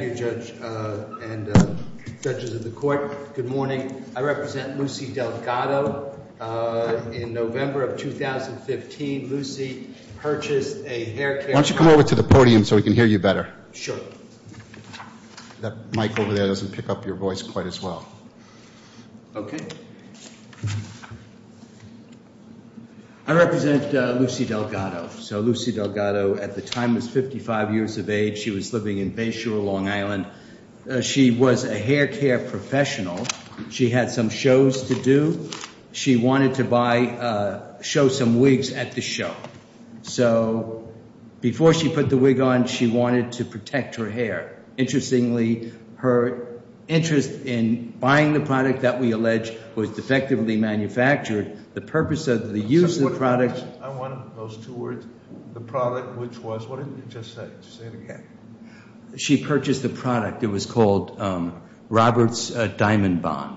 Thank you, Judge and Judges of the Court. Good morning. I represent Lucy Delgado. In November of 2015, Lucy purchased a hair care company. Why don't you come over to the podium so we can hear you better. Sure. That mic over there doesn't pick up your voice quite as well. Okay. I represent Lucy Delgado. So Lucy Delgado at the time was 55 years of age. She was living in Bayshore, Long Island. She was a hair care professional. She had some shows to do. She wanted to buy, show some wigs at the show. So before she put the wig on, she wanted to protect her hair. Interestingly, her interest in buying the product that we allege was defectively manufactured. The purpose of the use of the product- I want those two words, the product, which was, what did you just say, say it again. She purchased the product. It was called Robert's Diamond Bond.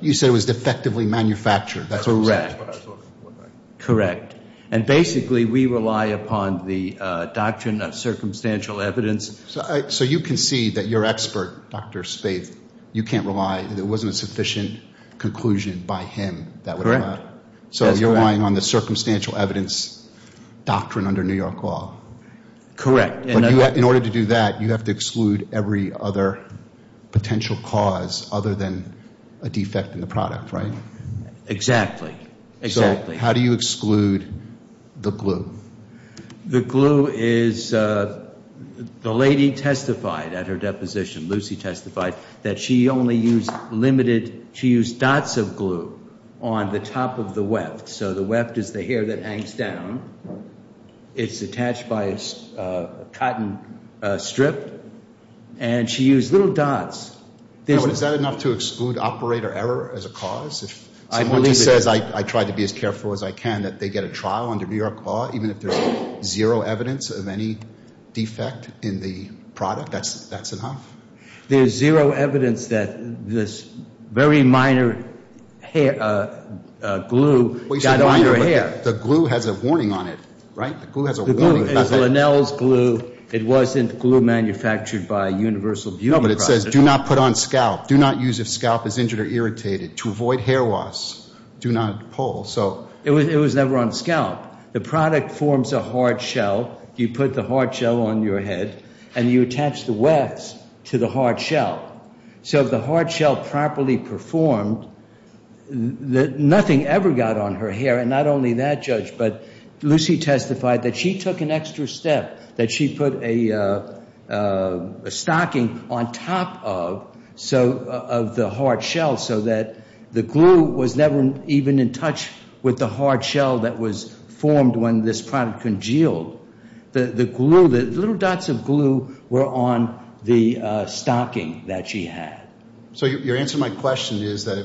You said it was defectively manufactured, that's what I thought it looked like. Correct. And basically, we rely upon the doctrine of circumstantial evidence. So you concede that your expert, Dr. Spaeth, you can't rely, there wasn't a sufficient conclusion by him that would have happened. So you're relying on the circumstantial evidence doctrine under New York law. Correct. In order to do that, you have to exclude every other potential cause other than a defect in the product, right? Exactly. Exactly. So how do you exclude the glue? The glue is, the lady testified at her deposition, Lucy testified, that she only used limited, she used dots of glue on the top of the weft. So the weft is the hair that hangs down. It's attached by a cotton strip. And she used little dots. Is that enough to exclude operator error as a cause? If someone says, I tried to be as careful as I can, that they get a trial under New York law, even if there's zero evidence of any defect in the product, that's enough? There's zero evidence that this very minor glue got on her hair. The glue has a warning on it, right? The glue has a warning. The glue is Linnell's glue. It wasn't glue manufactured by Universal Beauty Products. No, but it says, do not put on scalp. Do not use if scalp is injured or irritated. To avoid hair loss, do not pull. So. It was never on scalp. The product forms a hard shell. You put the hard shell on your head, and you attach the wefts to the hard shell. So if the hard shell properly performed, nothing ever got on her hair. And not only that, Judge, but Lucy testified that she took an extra step, that she put a stocking on top of the hard shell so that the glue was never even in touch with the hard shell that was formed when this product congealed. The glue, the little dots of glue were on the stocking that she had. So your answer to my question is that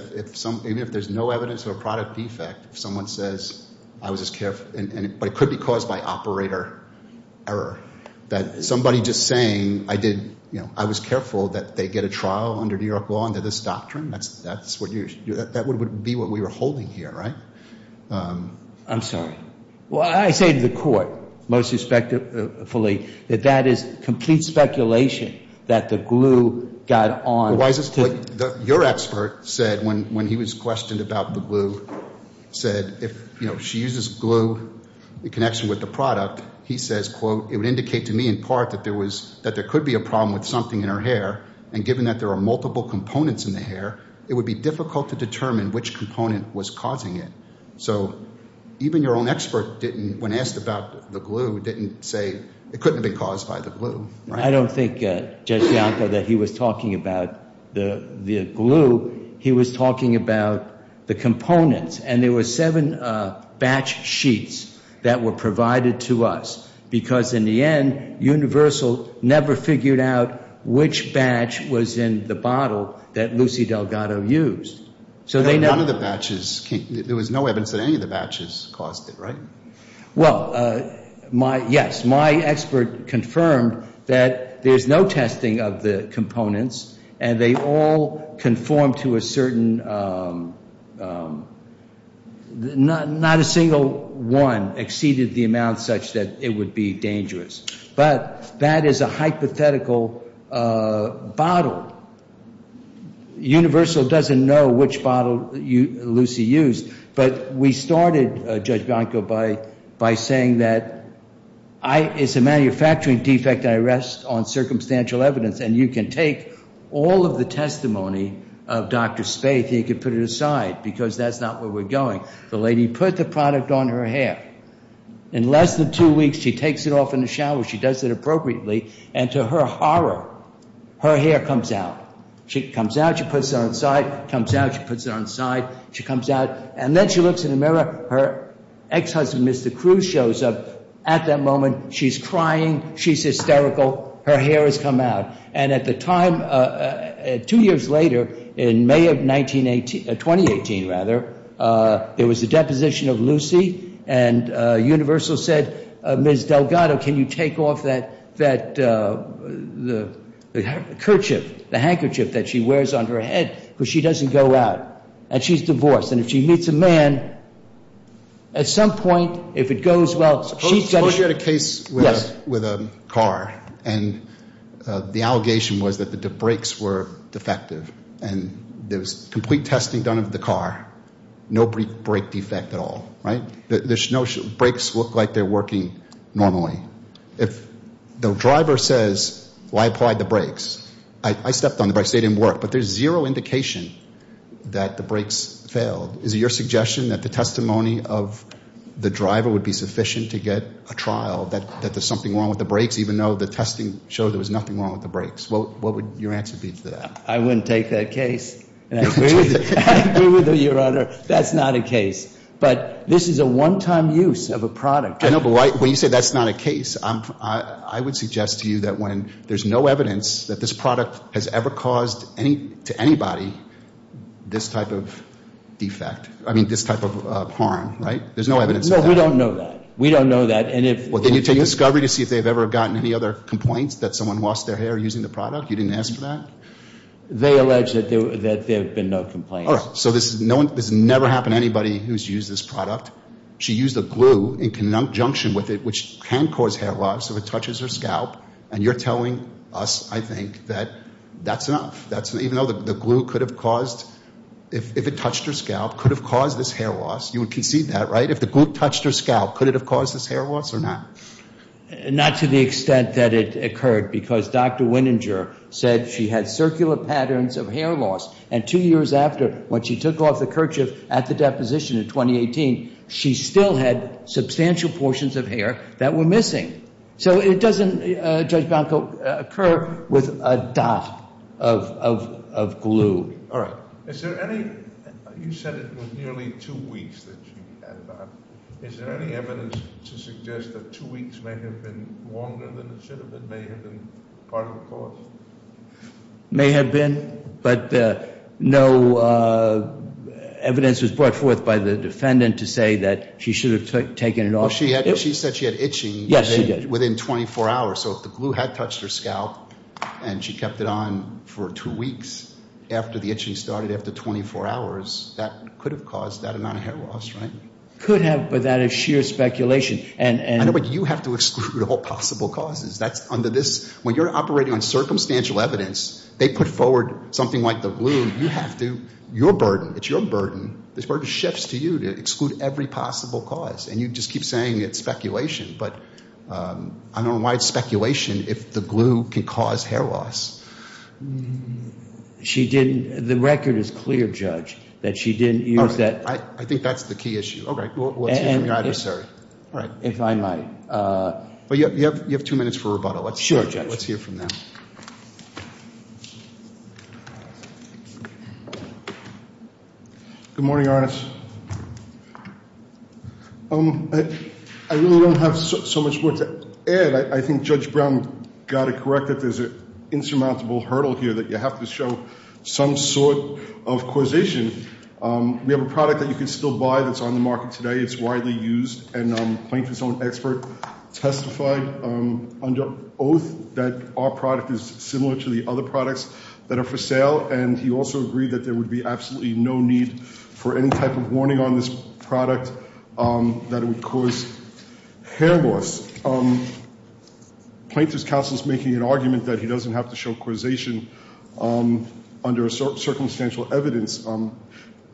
if there's no evidence of a product defect, if someone says, I was just careful, but it could be caused by operator error. That somebody just saying, I was careful that they get a trial under New York law under this doctrine, that would be what we were holding here, right? I'm sorry. Well, I say to the court, most respectfully, that that is complete speculation that the glue got on to. Your expert said, when he was questioned about the glue, said if she uses glue in connection with the product, he says, quote, it would indicate to me in part that there could be a problem with something in her hair, and given that there are multiple components in the hair, it would be difficult to determine which component was causing it. So even your own expert didn't, when asked about the glue, didn't say, it couldn't have been caused by the glue, right? I don't think, Judge Bianco, that he was talking about the glue. He was talking about the components. And there were seven batch sheets that were provided to us, because in the end, Universal never figured out which batch was in the bottle that Lucy Delgado used. So they know. None of the batches, there was no evidence that any of the batches caused it, right? Well, yes. My expert confirmed that there's no testing of the components, and they all conform to a certain, not a single one exceeded the amount such that it would be dangerous. But that is a hypothetical bottle. Universal doesn't know which bottle Lucy used. But we started, Judge Bianco, by saying that it's a manufacturing defect. I rest on circumstantial evidence. And you can take all of the testimony of Dr. Spaeth, and you can put it aside, because that's not where we're going. The lady put the product on her hair. In less than two weeks, she takes it off in the shower. She does it appropriately. And to her horror, her hair comes out. She comes out, she puts it on the side, comes out, she puts it on the side. She comes out, and then she looks in the mirror. Her ex-husband, Mr. Cruz, shows up. At that moment, she's crying. She's hysterical. Her hair has come out. And at the time, two years later, in May of 2018, there was a deposition of Lucy. And Universal said, Ms. Delgado, can you take off the handkerchief that she wears on her head, because she doesn't go out. And she's divorced. And if she meets a man, at some point, if it goes well, she's going to show up. Suppose you had a case with a car, and the allegation was that the brakes were defective. And there was complete testing done of the car. No brake defect at all, right? Brakes look like they're working normally. If the driver says, well, I applied the brakes, I stepped on the brakes, they didn't work, but there's zero indication that the brakes failed. Is it your suggestion that the testimony of the driver would be sufficient to get a trial, that there's something wrong with the brakes, even though the testing showed there was nothing wrong with the brakes? What would your answer be to that? I wouldn't take that case. And I agree with you, Your Honor. That's not a case. But this is a one-time use of a product. I know, but when you say that's not a case, I would suggest to you that when there's no evidence that this product has ever caused to anybody this type of defect, I mean, this type of harm, right? There's no evidence of that. No, we don't know that. We don't know that. And if you take a discovery to see if they've ever gotten any other complaints that someone lost their hair using the product, you didn't ask for that? They allege that there have been no complaints. All right. So this has never happened to anybody who's used this product. She used a glue in conjunction with it, which can cause hair loss if it touches her scalp. And you're telling us, I think, that that's enough, even though the glue could have caused, if it touched her scalp, could have caused this hair loss. You would concede that, right? If the glue touched her scalp, could it have caused this hair loss or not? Not to the extent that it occurred, because Dr. Wininger said she had circular patterns of hair loss. And two years after, when she took off the kerchief at the deposition in 2018, she still had substantial portions of hair that were missing. So it doesn't, Judge Banco, occur with a dot of glue. All right. Is there any, you said it was nearly two weeks that she had it on. Is there any evidence to suggest that two weeks may have been longer than it should have been, may have been part of the cause? May have been. But no evidence was brought forth by the defendant to say that she should have taken it off. She said she had itching within 24 hours. So if the glue had touched her scalp and she kept it on for two weeks after the itching started, after 24 hours, that could have caused that amount of hair loss, right? Could have, but that is sheer speculation. And- I know, but you have to exclude all possible causes. That's under this, when you're operating on circumstantial evidence, they put forward something like the glue. You have to, your burden, it's your burden. This burden shifts to you to exclude every possible cause. And you just keep saying it's speculation. But I don't know why it's speculation if the glue can cause hair loss. She didn't, the record is clear, Judge, that she didn't use that- I think that's the key issue. Okay, well, let's hear from your adversary. All right. If I might. But you have two minutes for rebuttal. Sure, Judge. Let's hear from them. Good morning, Your Honors. I really don't have so much more to add. I think Judge Brown got it corrected. There's an insurmountable hurdle here that you have to show some sort of causation. We have a product that you can still buy that's on the market today. It's widely used, and Plainton's own expert testified under oath that our product is similar to the other products that are for sale. And he also agreed that there would be absolutely no need for any type of warning on this product that it would cause hair loss. Plainton's counsel is making an argument that he doesn't have to show causation under a circumstantial evidence.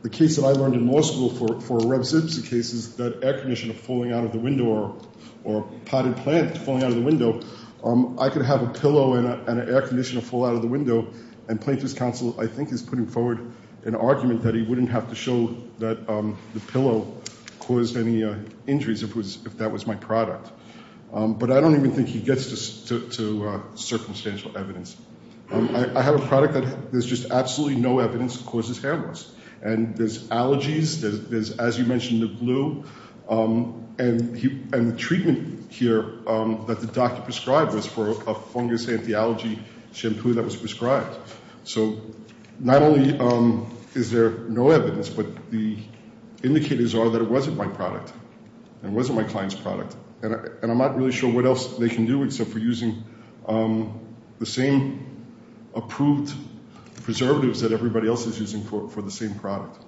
The case that I learned in law school for a revsib's case is that air conditioner falling out of the window or a potted plant falling out of the window, I could have a pillow and an air conditioner fall out of the window. And Plainton's counsel, I think, is putting forward an argument that he wouldn't have to show that the pillow caused any injuries if that was my product. But I don't even think he gets to circumstantial evidence. I have a product that there's just absolutely no evidence that causes hair loss. And there's allergies, there's, as you mentioned, the glue, and the treatment here that the doctor prescribed was for a fungus anti-allergy shampoo that was prescribed. So not only is there no evidence, but the indicators are that it wasn't my product, and it wasn't my client's product. And I'm not really sure what else they can do except for using the same approved preservatives that everybody else is using for the same product.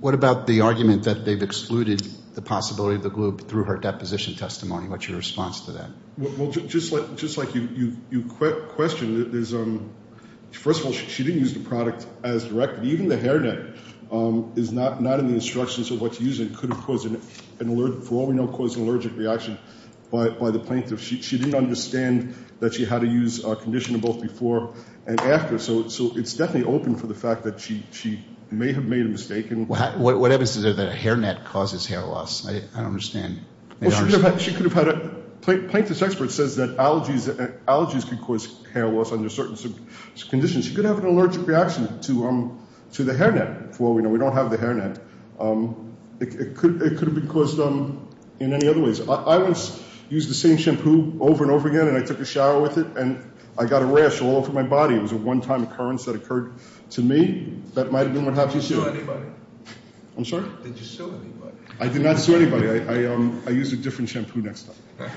What about the argument that they've excluded the possibility of the glue through her deposition testimony? What's your response to that? Well, just like you questioned, first of all, she didn't use the product as directed. Even the hair net is not in the instructions of what to use. And it could have, for all we know, caused an allergic reaction by the plaintiff. She didn't understand that she had to use a conditioner both before and after. So it's definitely open for the fact that she may have made a mistake. What evidence is there that a hair net causes hair loss? I don't understand. She could have had a, plaintiff's expert says that allergies can cause hair loss under certain conditions. She could have an allergic reaction to the hair net, for all we know. We don't have the hair net. It could have been caused in any other ways. I once used the same shampoo over and over again, and I took a shower with it, and I got a rash all over my body. It was a one time occurrence that occurred to me. That might have been what happened to you. Did you sue anybody? I'm sorry? Did you sue anybody? I did not sue anybody. I used a different shampoo next time.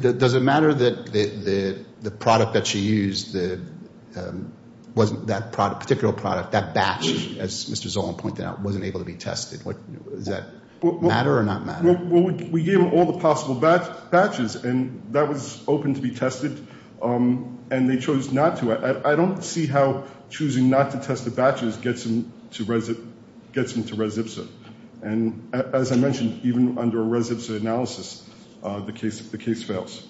Does it matter that the product that she used, that particular product, that batch, as Mr. Zolan pointed out, wasn't able to be tested? Does that matter or not matter? Well, we gave them all the possible batches, and that was open to be tested, and they chose not to. I don't see how choosing not to test the batches gets them to res ipsa. And as I mentioned, even under a res ipsa analysis, the case fails.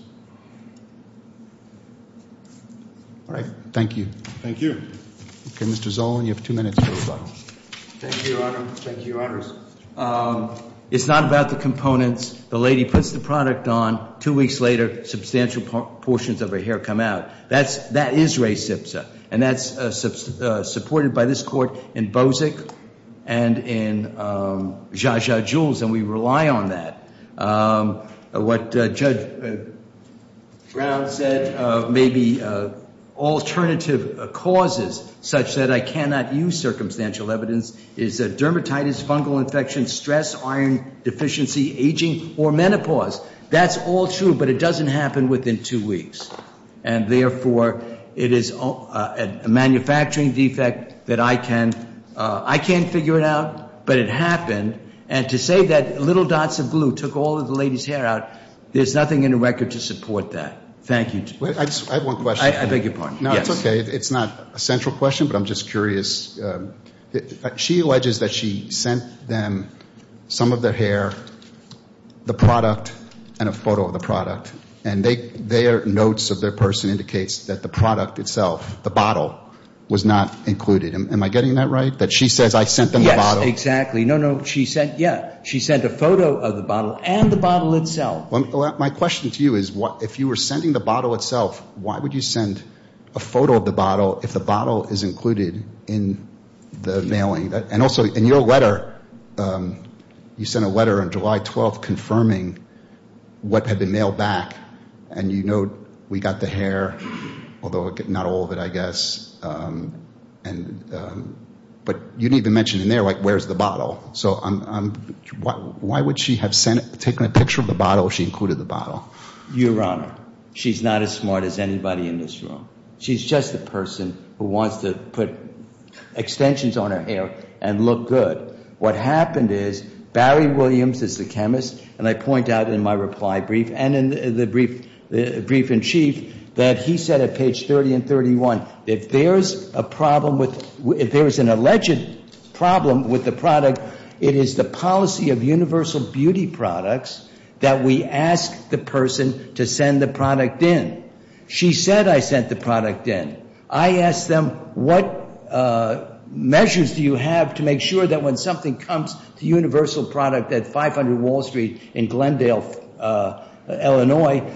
All right. Thank you. Thank you. Okay, Mr. Zolan, you have two minutes to respond. Thank you, Your Honor. Thank you, Your Honors. It's not about the components. The lady puts the product on, two weeks later, substantial portions of her hair come out. That is res ipsa. And that's supported by this court in Bozic and in Zsa Zsa Jules, and we rely on that. What Judge Brown said, maybe alternative causes, such that I cannot use circumstantial evidence, is dermatitis, fungal infection, stress, iron deficiency, aging, or menopause. That's all true, but it doesn't happen within two weeks. And therefore, it is a manufacturing defect that I can't figure it out, but it happened. And to say that little dots of glue took all of the lady's hair out, there's nothing in the record to support that. Thank you. I have one question. I beg your pardon. No, it's okay. It's not a central question, but I'm just curious. She alleges that she sent them some of their hair, the product, and a photo of the product. And their notes of their person indicates that the product itself, the bottle, was not included. Am I getting that right? That she says, I sent them the bottle? Yes, exactly. No, no, she sent, yeah, she sent a photo of the bottle and the bottle itself. My question to you is, if you were sending the bottle itself, why would you send a photo of the bottle if the bottle is included in the mailing? And also, in your letter, you sent a letter on July 12th confirming what had been mailed back. And you note, we got the hair, although not all of it, I guess. But you didn't even mention in there, like, where's the bottle? So why would she have taken a picture of the bottle if she included the bottle? Your Honor, she's not as smart as anybody in this room. She's just a person who wants to put extensions on her hair and look good. What happened is, Barry Williams is the chemist, and I point out in my reply brief, and in the brief in chief, that he said at page 30 and 31, if there's a problem with, if there's an alleged problem with the product, it is the policy of universal beauty products that we ask the person to send the product in. She said I sent the product in. I asked them, what measures do you have to make sure that when something comes to universal product at 500 Wall Street in Glendale, Illinois,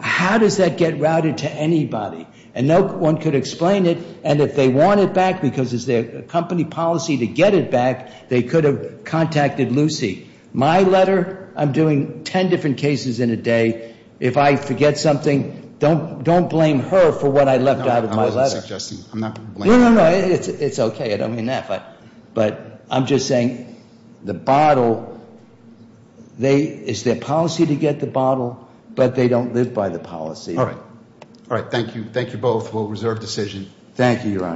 how does that get routed to anybody? And no one could explain it, and if they want it back because it's their company policy to get it back, they could have contacted Lucy. My letter, I'm doing ten different cases in a day. If I forget something, don't blame her for what I left out of my letter. I wasn't suggesting, I'm not blaming her. No, no, no, it's okay, I don't mean that. But I'm just saying the bottle, it's their policy to get the bottle, but they don't live by the policy. All right, all right, thank you, thank you both. We'll reserve decision. Thank you, Your Honor.